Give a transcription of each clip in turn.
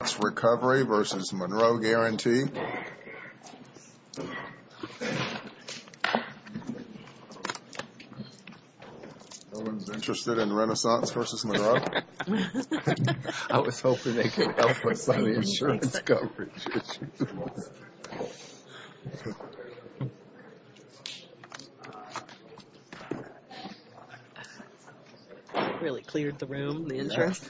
I was hoping they could help us on the insurance coverage issue. Really cleared the room, the insurance.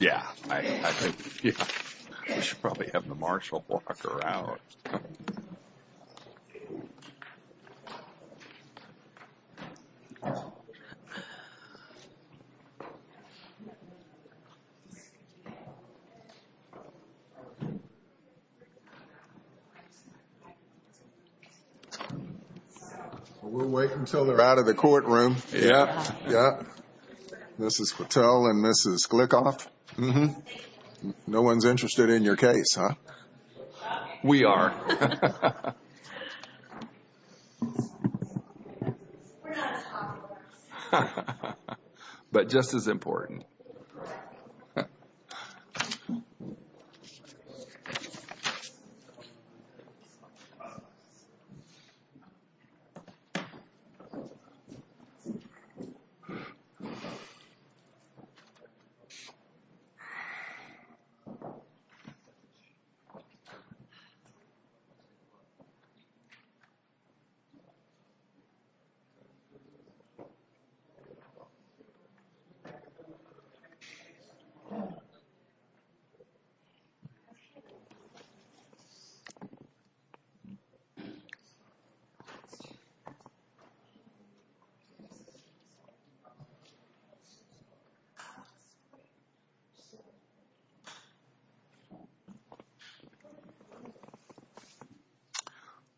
Yeah, I think we should probably have the marshal walk her out. We'll wait until they're out of the courtroom. Yeah. Yeah. This is Patel and this is Glickoff. Mm-hmm. No one's interested in your case, huh? We are. We're not as popular. But just as important. Correct.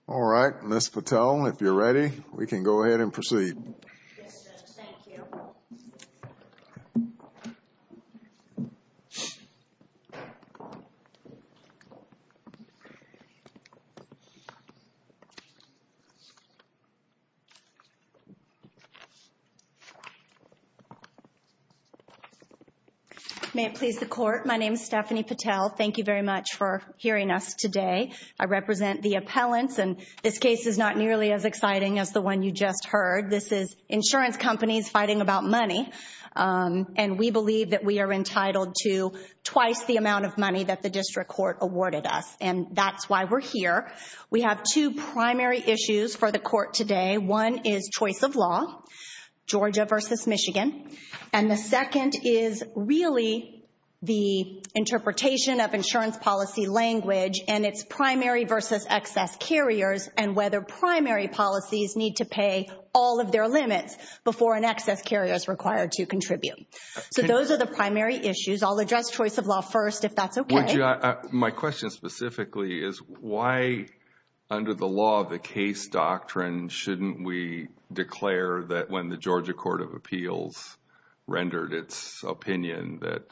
All right, Ms. Patel, if you're ready, we can go ahead and proceed. Yes, Judge, thank you. May it please the Court, my name is Stephanie Patel. Thank you very much for hearing us today. I represent the appellants, and this case is not nearly as exciting as the one you just heard. This is insurance companies fighting about money. And we believe that we are entitled to twice the amount of money that the district court awarded us. And that's why we're here. We have two primary issues for the court today. One is choice of law, Georgia versus Michigan. And the second is really the interpretation of insurance policy language and its primary versus excess carriers and whether primary policies need to pay all of their limits before an excess carrier is required to contribute. So those are the primary issues. I'll address choice of law first, if that's okay. My question specifically is why, under the law of the case doctrine, shouldn't we declare that when the Georgia Court of Appeals rendered its opinion that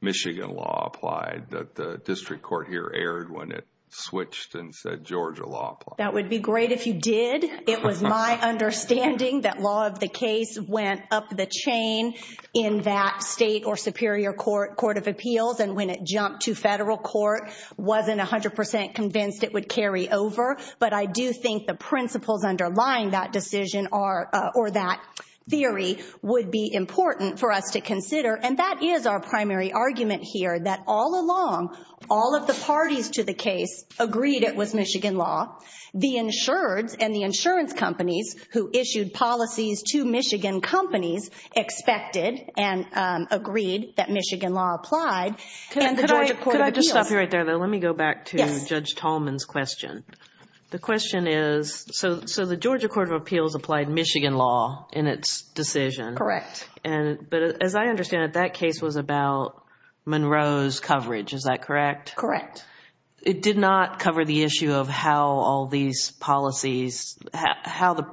Michigan law applied, that the district court here erred when it switched and said Georgia law applied? That would be great if you did. It was my understanding that law of the case went up the chain in that state or superior court of appeals. And when it jumped to federal court, wasn't 100% convinced it would carry over. But I do think the principles underlying that decision or that theory would be important for us to consider. And that is our primary argument here, that all along, all of the parties to the case agreed it was Michigan law. The insureds and the insurance companies who issued policies to Michigan companies expected and agreed that Michigan law applied. Could I just stop you right there, though? Let me go back to Judge Tallman's question. The question is, so the Georgia Court of Appeals applied Michigan law in its decision. Correct. But as I understand it, that case was about Monroe's coverage. Is that correct? Correct. It did not cover the issue of how all these policies, how the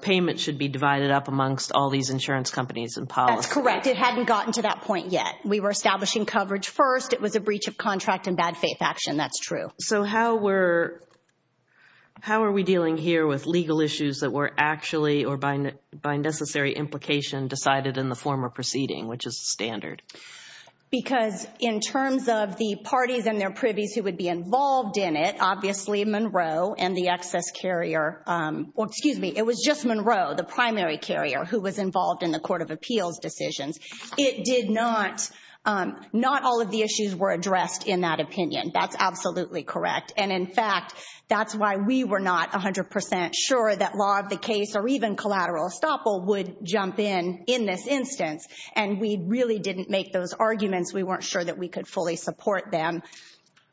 payment should be divided up amongst all these insurance companies and policies. That's correct. It hadn't gotten to that point yet. We were establishing coverage first. It was a breach of contract and bad faith action. That's true. So how were, how are we dealing here with legal issues that were actually or by necessary implication decided in the former proceeding, which is standard? Because in terms of the parties and their privies who would be involved in it, obviously Monroe and the excess carrier, well, excuse me, it was just Monroe, the primary carrier who was involved in the Court of Appeals decisions. It did not, not all of the issues were addressed in that opinion. That's absolutely correct. And, in fact, that's why we were not 100% sure that law of the case or even collateral estoppel would jump in in this instance. And we really didn't make those arguments. We weren't sure that we could fully support them,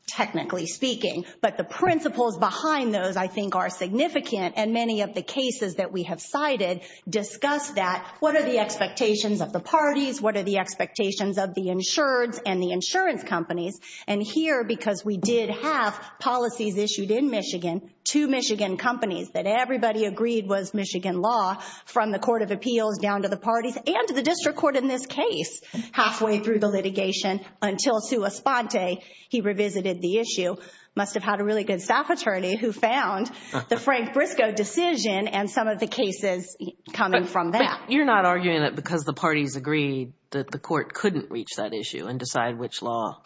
technically speaking. But the principles behind those I think are significant, and many of the cases that we have cited discuss that. What are the expectations of the parties? What are the expectations of the insureds and the insurance companies? And here, because we did have policies issued in Michigan to Michigan companies that everybody agreed was Michigan law from the Court of Appeals down to the parties and to the district court in this case halfway through the litigation until Sue Esponte, he revisited the issue, must have had a really good staff attorney who found the Frank Briscoe decision and some of the cases coming from that. But you're not arguing that because the parties agreed that the court couldn't reach that issue and decide which law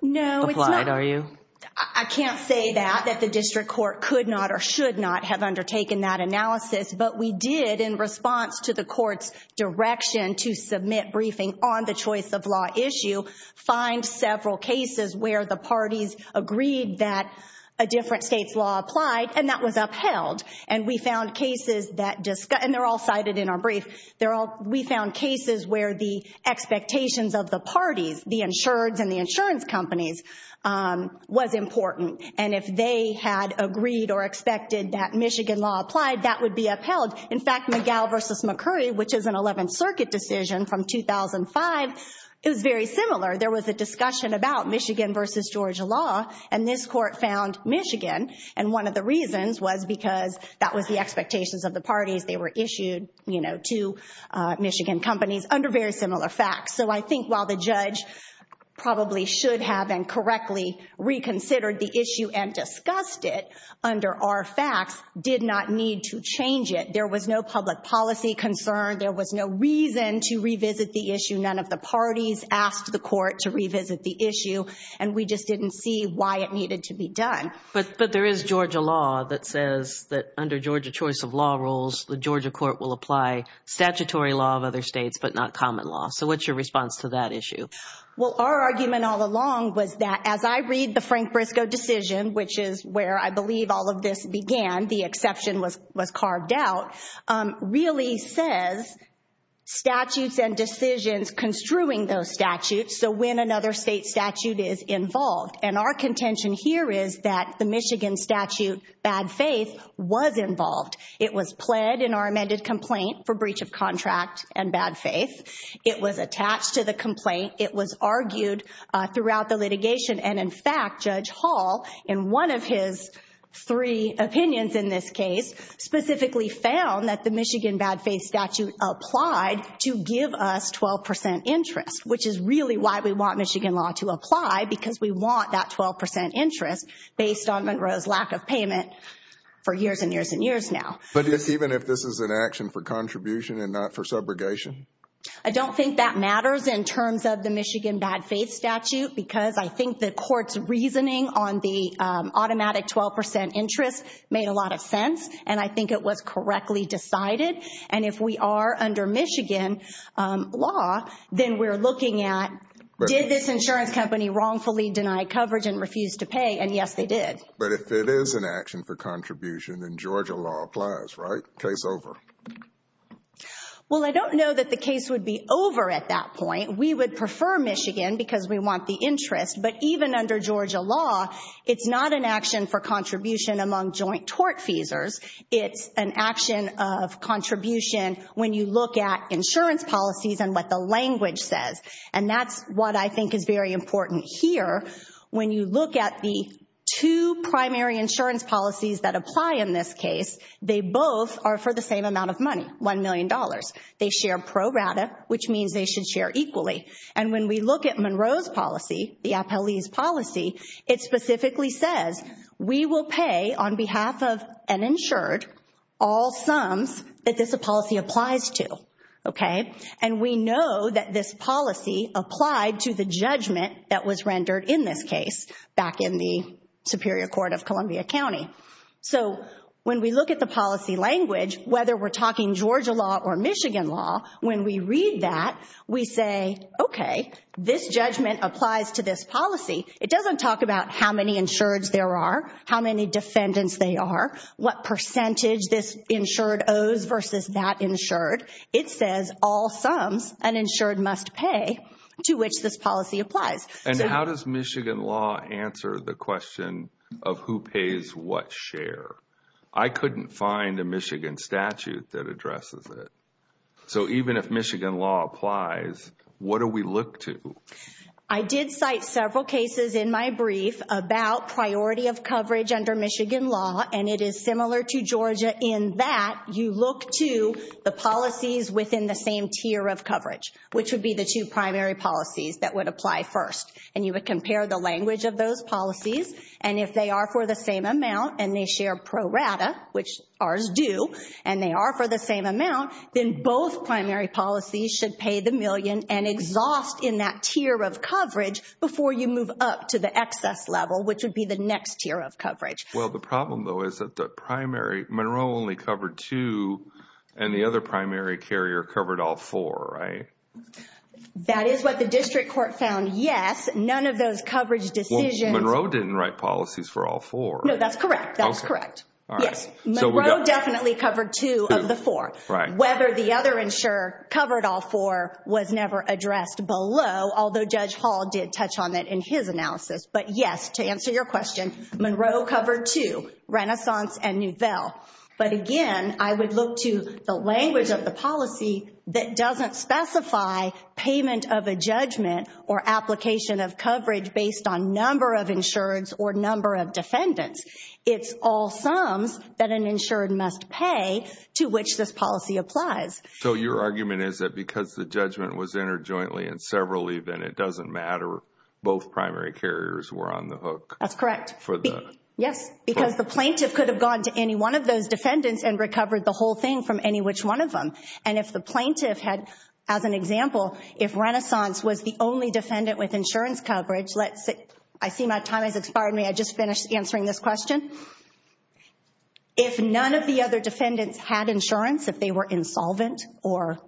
applied, are you? No, it's not. I can't say that, that the district court could not or should not have undertaken that analysis, but we did in response to the court's direction to submit briefing on the choice of law issue find several cases where the parties agreed that a different state's law applied, and that was upheld. We found cases where the expectations of the parties, the insureds and the insurance companies, was important. And if they had agreed or expected that Michigan law applied, that would be upheld. In fact, McGill v. McCurry, which is an 11th Circuit decision from 2005, it was very similar. There was a discussion about Michigan v. Georgia law, and this court found Michigan. And one of the reasons was because that was the expectations of the parties. They were issued to Michigan companies under very similar facts. So I think while the judge probably should have incorrectly reconsidered the issue and discussed it under our facts, did not need to change it. There was no public policy concern. There was no reason to revisit the issue. None of the parties asked the court to revisit the issue, and we just didn't see why it needed to be done. But there is Georgia law that says that under Georgia choice of law rules, the Georgia court will apply statutory law of other states but not common law. So what's your response to that issue? Well, our argument all along was that as I read the Frank Briscoe decision, which is where I believe all of this began, the exception was carved out, really says statutes and decisions construing those statutes, so when another state statute is involved. And our contention here is that the Michigan statute, bad faith, was involved. It was pled in our amended complaint for breach of contract and bad faith. It was attached to the complaint. It was argued throughout the litigation. And, in fact, Judge Hall, in one of his three opinions in this case, specifically found that the Michigan bad faith statute applied to give us 12% interest, which is really why we want Michigan law to apply, because we want that 12% interest based on Monroe's lack of payment for years and years and years now. But even if this is an action for contribution and not for subrogation? I don't think that matters in terms of the Michigan bad faith statute because I think the court's reasoning on the automatic 12% interest made a lot of sense, and I think it was correctly decided. And if we are under Michigan law, then we're looking at, did this insurance company wrongfully deny coverage and refuse to pay? And, yes, they did. But if it is an action for contribution, then Georgia law applies, right? Case over. Well, I don't know that the case would be over at that point. We would prefer Michigan because we want the interest. But even under Georgia law, it's not an action for contribution among joint tort feasors. It's an action of contribution when you look at insurance policies and what the language says. And that's what I think is very important here. When you look at the two primary insurance policies that apply in this case, they both are for the same amount of money, $1 million. They share pro rata, which means they should share equally. And when we look at Monroe's policy, the appellee's policy, it specifically says we will pay on behalf of an insured all sums that this policy applies to, okay? And we know that this policy applied to the judgment that was rendered in this case back in the Superior Court of Columbia County. So when we look at the policy language, whether we're talking Georgia law or Michigan law, when we read that, we say, okay, this judgment applies to this policy. It doesn't talk about how many insureds there are, how many defendants they are, what percentage this insured owes versus that insured. It says all sums an insured must pay to which this policy applies. And how does Michigan law answer the question of who pays what share? I couldn't find a Michigan statute that addresses it. So even if Michigan law applies, what do we look to? I did cite several cases in my brief about priority of coverage under Michigan law, and it is similar to Georgia in that you look to the policies within the same tier of coverage, which would be the two primary policies that would apply first. And you would compare the language of those policies. And if they are for the same amount and they share pro rata, which ours do, and they are for the same amount, then both primary policies should pay the million and exhaust in that tier of coverage before you move up to the excess level, which would be the next tier of coverage. Well, the problem, though, is that Monroe only covered two and the other primary carrier covered all four, right? That is what the district court found, yes. None of those coverage decisions— Monroe didn't write policies for all four. No, that's correct. That's correct. Yes, Monroe definitely covered two of the four. Whether the other insurer covered all four was never addressed below, although Judge Hall did touch on that in his analysis. But yes, to answer your question, Monroe covered two, Renaissance and Nouvelle. But again, I would look to the language of the policy that doesn't specify payment of a judgment or application of coverage based on number of insureds or number of defendants. It's all sums that an insured must pay to which this policy applies. So your argument is that because the judgment was entered jointly in several, even it doesn't matter, both primary carriers were on the hook. That's correct. Yes, because the plaintiff could have gone to any one of those defendants and recovered the whole thing from any which one of them. And if the plaintiff had, as an example, if Renaissance was the only defendant with insurance coverage, let's say—I see my time has expired. Pardon me, I just finished answering this question. If none of the other defendants had insurance, if they were insolvent or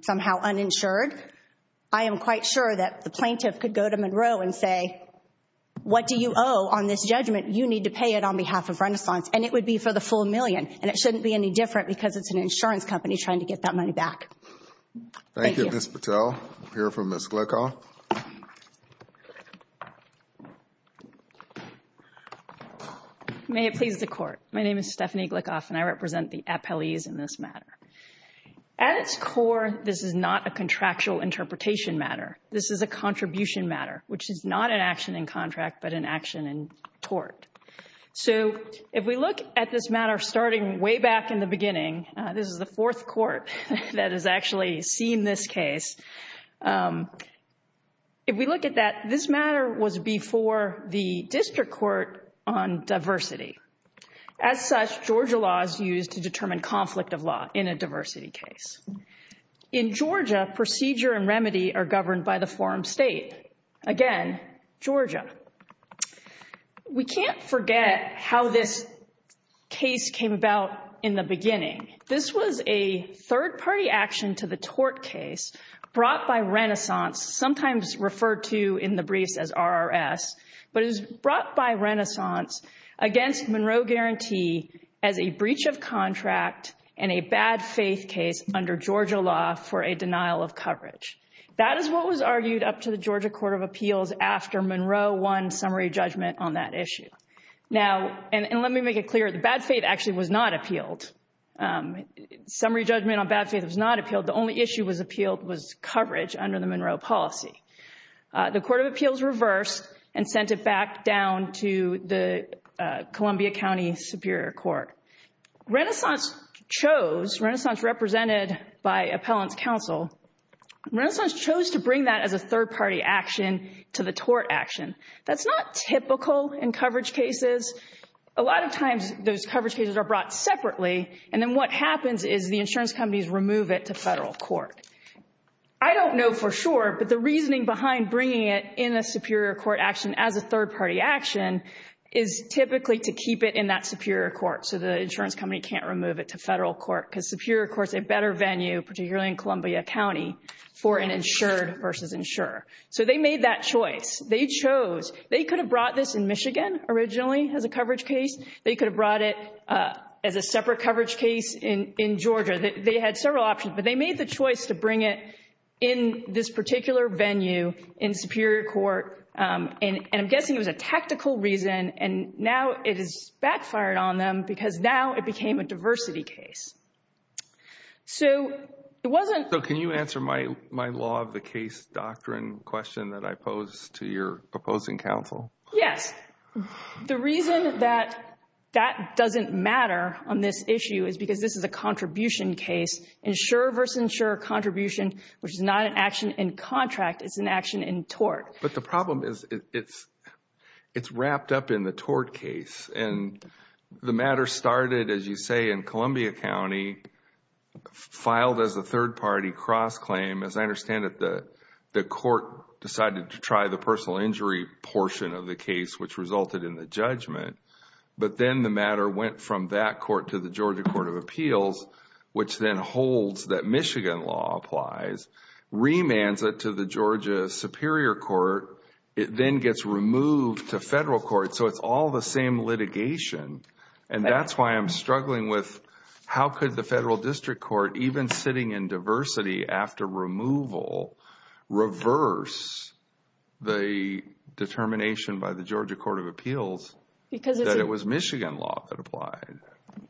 somehow uninsured, I am quite sure that the plaintiff could go to Monroe and say, what do you owe on this judgment? You need to pay it on behalf of Renaissance. And it would be for the full million. And it shouldn't be any different because it's an insurance company trying to get that money back. Thank you. Thank you, Ms. Patel. We'll hear from Ms. Glickoff. May it please the Court. My name is Stephanie Glickoff, and I represent the appellees in this matter. At its core, this is not a contractual interpretation matter. This is a contribution matter, which is not an action in contract but an action in tort. So if we look at this matter starting way back in the beginning, this is the fourth court that has actually seen this case. If we look at that, this matter was before the District Court on diversity. As such, Georgia law is used to determine conflict of law in a diversity case. In Georgia, procedure and remedy are governed by the forum state. Again, Georgia. We can't forget how this case came about in the beginning. This was a third-party action to the tort case brought by Renaissance, sometimes referred to in the briefs as RRS, but it was brought by Renaissance against Monroe Guarantee as a breach of contract and a bad faith case under Georgia law for a denial of coverage. That is what was argued up to the Georgia Court of Appeals after Monroe won summary judgment on that issue. And let me make it clear, the bad faith actually was not appealed. Summary judgment on bad faith was not appealed. The only issue that was appealed was coverage under the Monroe policy. The Court of Appeals reversed and sent it back down to the Columbia County Superior Court. Renaissance chose, Renaissance represented by appellant's counsel, Renaissance chose to bring that as a third-party action to the tort action. That's not typical in coverage cases. A lot of times those coverage cases are brought separately, and then what happens is the insurance companies remove it to federal court. I don't know for sure, but the reasoning behind bringing it in a superior court action as a third-party action is typically to keep it in that superior court, so the insurance company can't remove it to federal court, because superior court is a better venue, particularly in Columbia County, for an insured versus insurer. So they made that choice. They chose. They could have brought this in Michigan originally as a coverage case. They could have brought it as a separate coverage case in Georgia. They had several options, but they made the choice to bring it in this particular venue, in superior court, and I'm guessing it was a tactical reason, and now it has backfired on them because now it became a diversity case. So it wasn't. So can you answer my law of the case doctrine question that I pose to your opposing counsel? Yes. The reason that that doesn't matter on this issue is because this is a contribution case, insurer versus insurer contribution, which is not an action in contract. It's an action in tort. But the problem is it's wrapped up in the tort case, and the matter started, as you say, in Columbia County, filed as a third-party cross-claim. As I understand it, the court decided to try the personal injury portion of the case, which resulted in the judgment, but then the matter went from that court to the Georgia Court of Appeals, which then holds that Michigan law applies, remands it to the Georgia Superior Court. It then gets removed to federal court. So it's all the same litigation, and that's why I'm struggling with how could the federal district court, even sitting in diversity after removal, reverse the determination by the Georgia Court of Appeals that it was Michigan law that applied.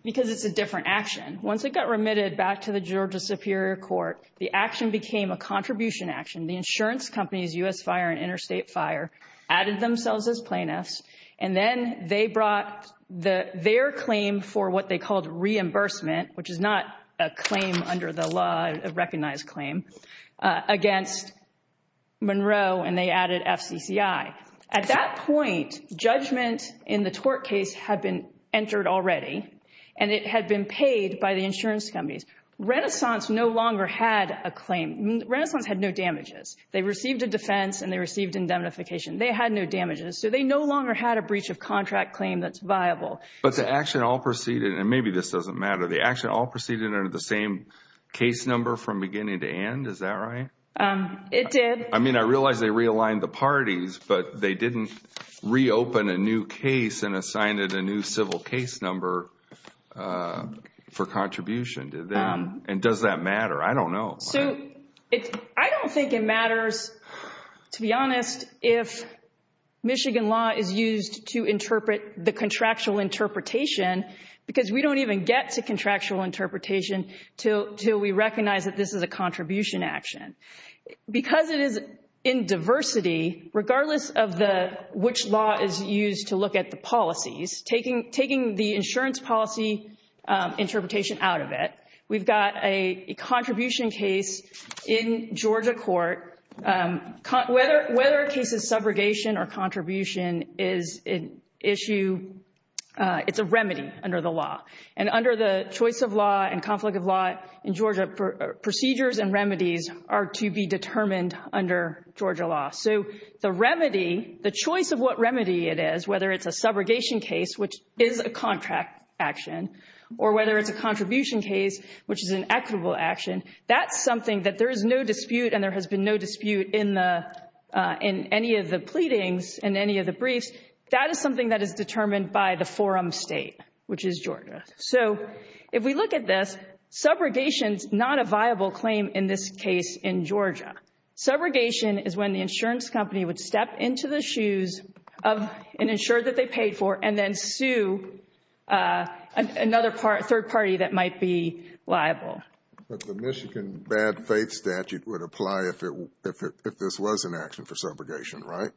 Because it's a different action. Once it got remitted back to the Georgia Superior Court, the action became a contribution action. The insurance companies, U.S. Fire and Interstate Fire, added themselves as plaintiffs, and then they brought their claim for what they called reimbursement, which is not a claim under the law, a recognized claim, against Monroe, and they added FCCI. At that point, judgment in the tort case had been entered already, and it had been paid by the insurance companies. Renaissance no longer had a claim. Renaissance had no damages. They received a defense, and they received indemnification. They had no damages, so they no longer had a breach of contract claim that's viable. But the action all proceeded, and maybe this doesn't matter, the action all proceeded under the same case number from beginning to end. Is that right? It did. I mean, I realize they realigned the parties, but they didn't reopen a new case and assign it a new civil case number for contribution. And does that matter? I don't know. I don't think it matters, to be honest, if Michigan law is used to interpret the contractual interpretation, because we don't even get to contractual interpretation until we recognize that this is a contribution action. Because it is in diversity, regardless of which law is used to look at the policies, taking the insurance policy interpretation out of it, we've got a contribution case in Georgia court. Whether a case is subrogation or contribution is an issue, it's a remedy under the law. And under the choice of law and conflict of law in Georgia, procedures and remedies are to be determined under Georgia law. So the remedy, the choice of what remedy it is, whether it's a subrogation case, which is a contract action, or whether it's a contribution case, which is an equitable action, that's something that there is no dispute and there has been no dispute in any of the pleadings and any of the briefs. That is something that is determined by the forum state, which is Georgia. So if we look at this, subrogation is not a viable claim in this case in Georgia. Subrogation is when the insurance company would step into the shoes of an insurer that they paid for and then sue another third party that might be liable. But the Michigan bad faith statute would apply if this was an action for subrogation, right?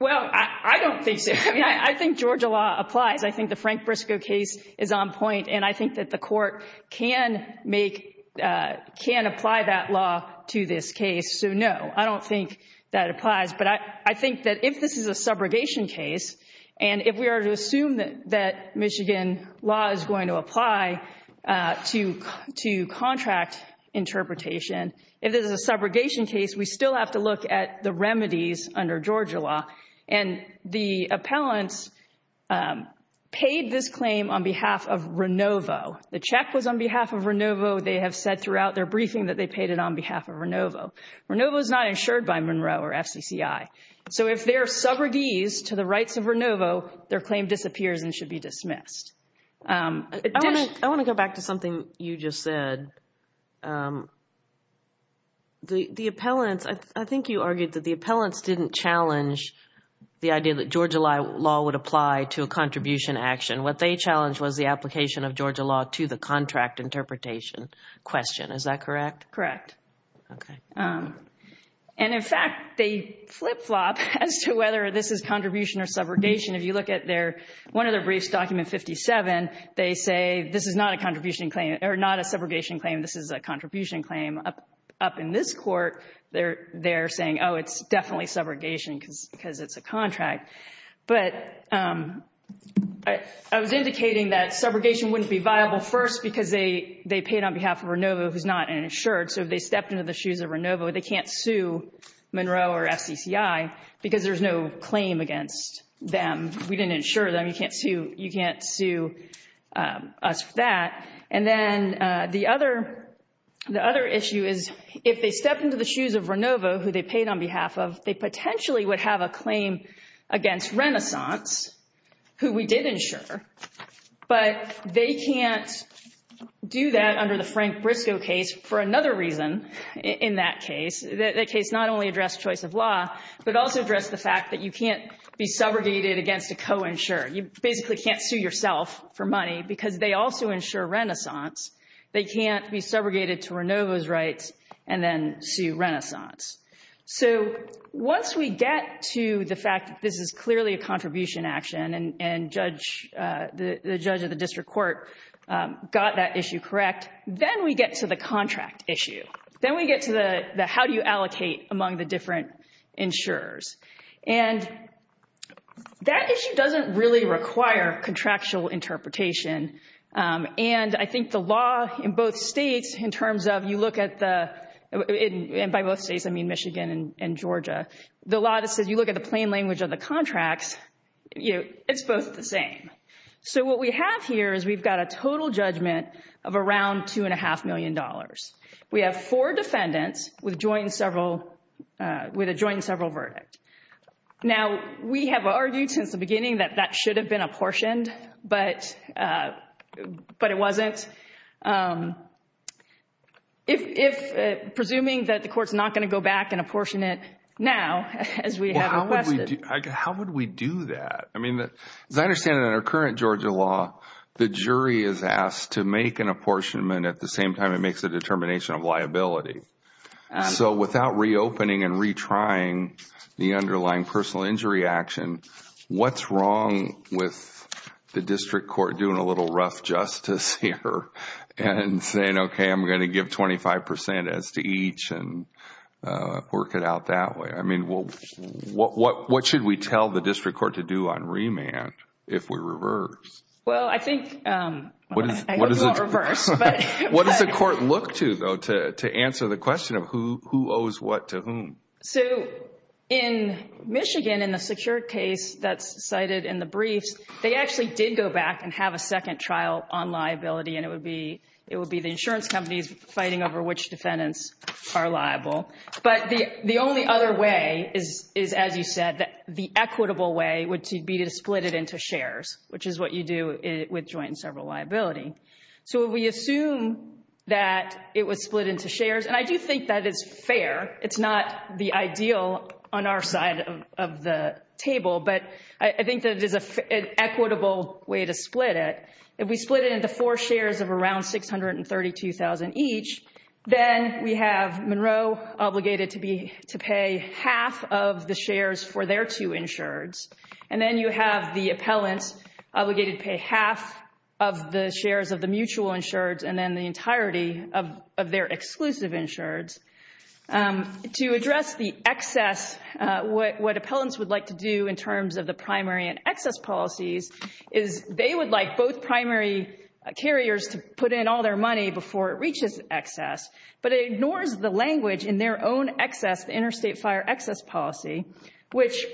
Well, I don't think so. I think Georgia law applies. I think the Frank Briscoe case is on point, and I think that the court can apply that law to this case. So no, I don't think that applies. But I think that if this is a subrogation case and if we are to assume that Michigan law is going to apply to contract interpretation, if this is a subrogation case, we still have to look at the remedies under Georgia law. And the appellants paid this claim on behalf of RENOVO. The check was on behalf of RENOVO. They have said throughout their briefing that they paid it on behalf of RENOVO. RENOVO is not insured by Monroe or FCCI. So if they are subrogees to the rights of RENOVO, their claim disappears and should be dismissed. I want to go back to something you just said. The appellants, I think you argued that the appellants didn't challenge the idea that Georgia law would apply to a contribution action. What they challenged was the application of Georgia law to the contract interpretation question. Is that correct? Correct. Okay. And, in fact, they flip-flop as to whether this is contribution or subrogation. If you look at one of their briefs, document 57, they say this is not a subrogation claim, this is a contribution claim. Up in this court, they're saying, oh, it's definitely subrogation because it's a contract. But I was indicating that subrogation wouldn't be viable first because they paid on behalf of RENOVO, who's not insured. So if they stepped into the shoes of RENOVO, they can't sue Monroe or FCCI because there's no claim against them. We didn't insure them. You can't sue us for that. And then the other issue is if they stepped into the shoes of RENOVO, who they paid on behalf of, they potentially would have a claim against Renaissance, who we did insure, but they can't do that under the Frank Briscoe case for another reason in that case. That case not only addressed choice of law, but also addressed the fact that you can't be subrogated against a co-insured. You basically can't sue yourself for money because they also insure Renaissance. They can't be subrogated to RENOVO's rights and then sue Renaissance. So once we get to the fact that this is clearly a contribution action and the judge of the district court got that issue correct, then we get to the contract issue. Then we get to the how do you allocate among the different insurers. And that issue doesn't really require contractual interpretation. And I think the law in both states in terms of you look at the—and by both states, I mean Michigan and Georgia— the law that says you look at the plain language of the contracts, it's both the same. So what we have here is we've got a total judgment of around $2.5 million. We have four defendants with a joint and several verdict. Now, we have argued since the beginning that that should have been apportioned, but it wasn't. If—presuming that the court's not going to go back and apportion it now as we have requested. Well, how would we do that? I mean, as I understand it in our current Georgia law, the jury is asked to make an apportionment at the same time it makes a determination of liability. So without reopening and retrying the underlying personal injury action, what's wrong with the district court doing a little rough justice here and saying, okay, I'm going to give 25 percent as to each and work it out that way? I mean, what should we tell the district court to do on remand if we reverse? Well, I think—I hope you won't reverse. What does the court look to, though, to answer the question of who owes what to whom? So in Michigan, in the secure case that's cited in the briefs, they actually did go back and have a second trial on liability, and it would be the insurance companies fighting over which defendants are liable. But the only other way is, as you said, the equitable way would be to split it into shares, which is what you do with joint and several liability. So we assume that it was split into shares, and I do think that is fair. It's not the ideal on our side of the table, but I think that it is an equitable way to split it. If we split it into four shares of around $632,000 each, then we have Monroe obligated to pay half of the shares for their two insureds, and then you have the appellant obligated to pay half of the shares of the mutual insureds and then the entirety of their exclusive insureds. To address the excess, what appellants would like to do in terms of the primary and excess policies is they would like both primary carriers to put in all their money before it reaches excess, but it ignores the language in their own excess, the interstate fire excess policy, which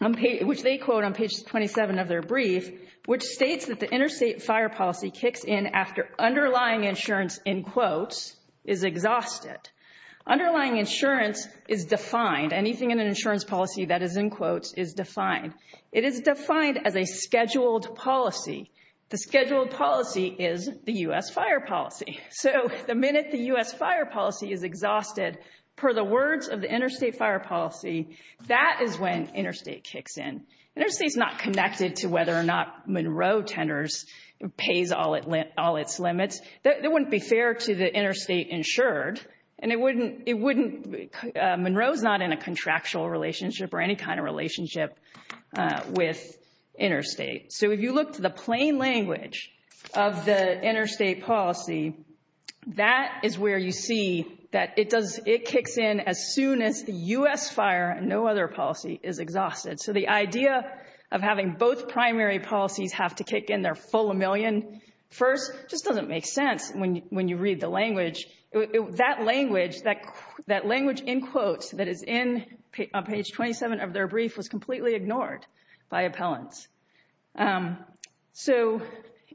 they quote on page 27 of their brief, which states that the interstate fire policy kicks in after underlying insurance, in quotes, is exhausted. Underlying insurance is defined, anything in an insurance policy that is in quotes is defined. It is defined as a scheduled policy. The scheduled policy is the U.S. fire policy. So the minute the U.S. fire policy is exhausted, per the words of the interstate fire policy, that is when interstate kicks in. Interstate is not connected to whether or not Monroe Tenors pays all its limits. That wouldn't be fair to the interstate insured, and it wouldn't, it wouldn't, Monroe's not in a contractual relationship or any kind of relationship with interstate. So if you look to the plain language of the interstate policy, that is where you see that it does, it kicks in as soon as the U.S. fire and no other policy is exhausted. So the idea of having both primary policies have to kick in their full million first just doesn't make sense when you read the language. That language, that language in quotes that is in page 27 of their brief was completely ignored by appellants. So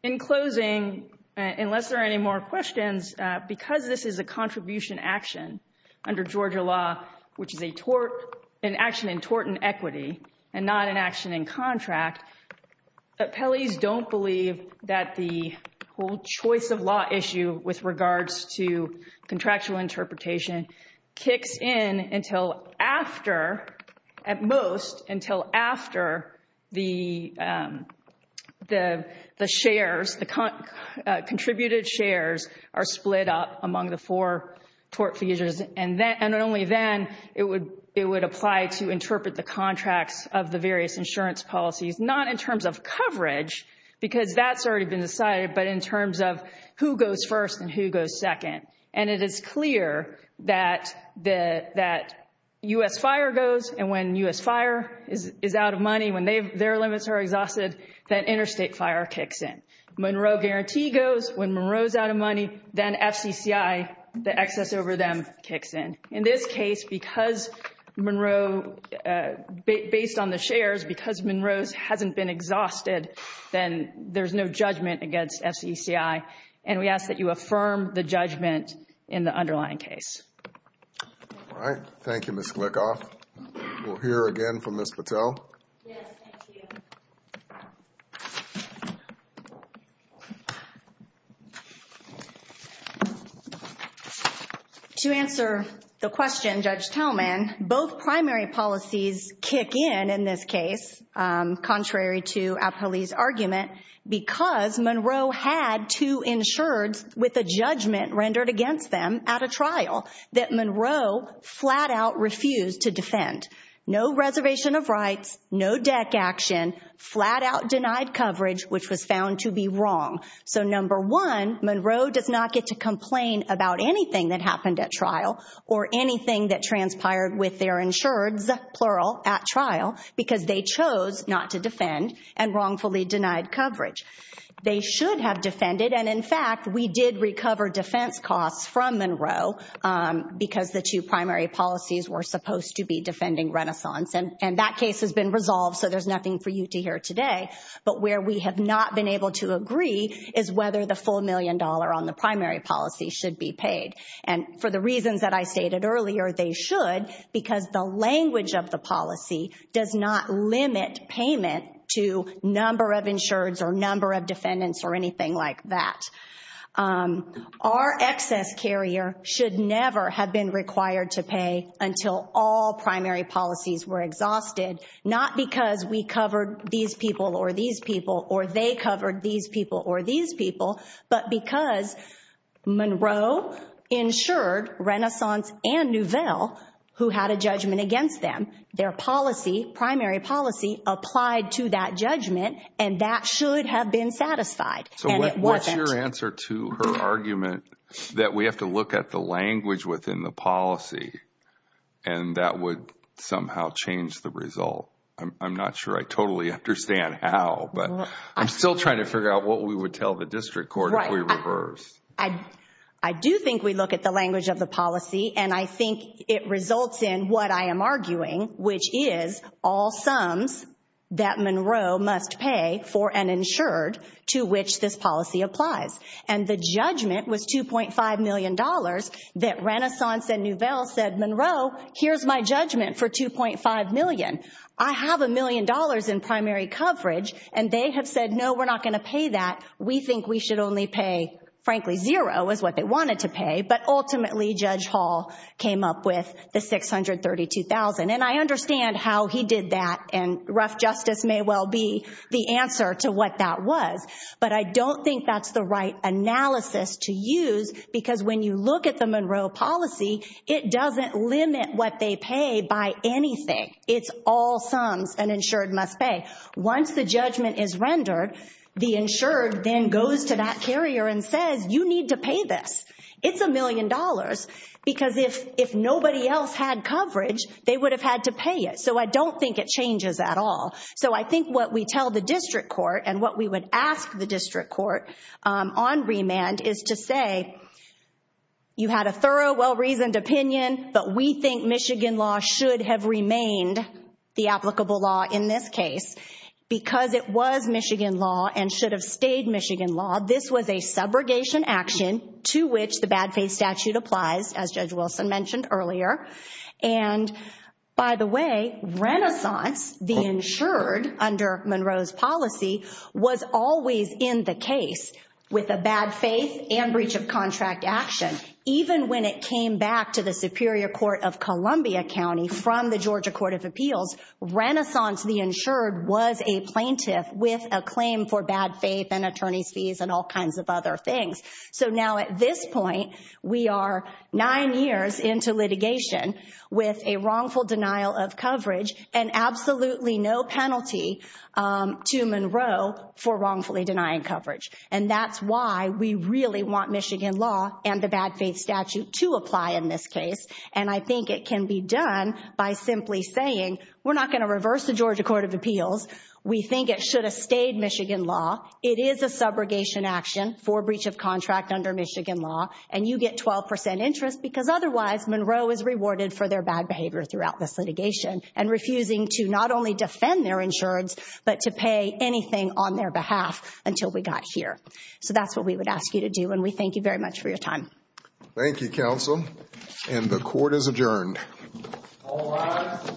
in closing, unless there are any more questions, because this is a contribution action under Georgia law, which is an action in tort and equity and not an action in contract, appellees don't believe that the whole choice of law issue with regards to contractual interpretation kicks in until after, at most, until after the shares, the contributed shares are split up among the four tort fees, and only then it would apply to interpret the contracts of the various insurance policies, not in terms of coverage, because that's already been decided, but in terms of who goes first and who goes second. And it is clear that U.S. fire goes, and when U.S. fire is out of money, when their limits are exhausted, that interstate fire kicks in. Monroe guarantee goes. When Monroe's out of money, then FCCI, the excess over them, kicks in. In this case, because Monroe, based on the shares, because Monroe's hasn't been exhausted, then there's no judgment against FCCI. And we ask that you affirm the judgment in the underlying case. All right. Thank you, Ms. Glickoff. We'll hear again from Ms. Patel. Yes, thank you. To answer the question, Judge Talman, both primary policies kick in in this case, contrary to Apolli's argument, because Monroe had two insureds with a judgment rendered against them at a trial that Monroe flat-out refused to defend. No reservation of rights, no deck action, flat-out denied coverage, which was found to be wrong. So number one, Monroe does not get to complain about anything that happened at trial or anything that transpired with their insureds, plural, at trial, because they chose not to defend and wrongfully denied coverage. They should have defended. And, in fact, we did recover defense costs from Monroe because the two primary policies were supposed to be defending Renaissance. And that case has been resolved, so there's nothing for you to hear today. But where we have not been able to agree is whether the full million dollar on the primary policy should be paid. And for the reasons that I stated earlier, they should, because the language of the policy does not limit payment to number of insureds or number of defendants or anything like that. Our excess carrier should never have been required to pay until all primary policies were exhausted, not because we covered these people or these people or they covered these people or these people, but because Monroe insured Renaissance and Nouvelle, who had a judgment against them, their policy, primary policy, applied to that judgment, and that should have been satisfied. And it wasn't. So what's your answer to her argument that we have to look at the language within the policy and that would somehow change the result? I'm not sure I totally understand how, but I'm still trying to figure out what we would tell the district court if we reversed. I do think we look at the language of the policy, and I think it results in what I am arguing, which is all sums that Monroe must pay for an insured to which this policy applies. And the judgment was $2.5 million that Renaissance and Nouvelle said, Monroe, here's my judgment for $2.5 million. I have $1 million in primary coverage, and they have said, no, we're not going to pay that. We think we should only pay, frankly, zero is what they wanted to pay, but ultimately Judge Hall came up with the $632,000. And I understand how he did that, and rough justice may well be the answer to what that was, but I don't think that's the right analysis to use because when you look at the Monroe policy, it doesn't limit what they pay by anything. It's all sums an insured must pay. Once the judgment is rendered, the insured then goes to that carrier and says, you need to pay this. It's $1 million because if nobody else had coverage, they would have had to pay it. So I don't think it changes at all. So I think what we tell the district court and what we would ask the district court on remand is to say, you had a thorough, well-reasoned opinion, but we think Michigan law should have remained the applicable law in this case because it was Michigan law and should have stayed Michigan law. This was a subrogation action to which the bad faith statute applies, as Judge Wilson mentioned earlier. And by the way, Renaissance, the insured under Monroe's policy, was always in the case with a bad faith and breach of contract action. Even when it came back to the Superior Court of Columbia County from the Georgia Court of Appeals, Renaissance, the insured, was a plaintiff with a claim for bad faith and attorney's fees and all kinds of other things. So now at this point, we are nine years into litigation with a wrongful denial of coverage and absolutely no penalty to Monroe for wrongfully denying coverage. And that's why we really want Michigan law and the bad faith statute to apply in this case. And I think it can be done by simply saying, we're not going to reverse the Georgia Court of Appeals. We think it should have stayed Michigan law. It is a subrogation action for breach of contract under Michigan law. And you get 12% interest because otherwise Monroe is rewarded for their bad behavior throughout this litigation and refusing to not only defend their insurance, but to pay anything on their behalf until we got here. So that's what we would ask you to do. And we thank you very much for your time. Thank you, counsel. And the court is adjourned. All rise. Thank you.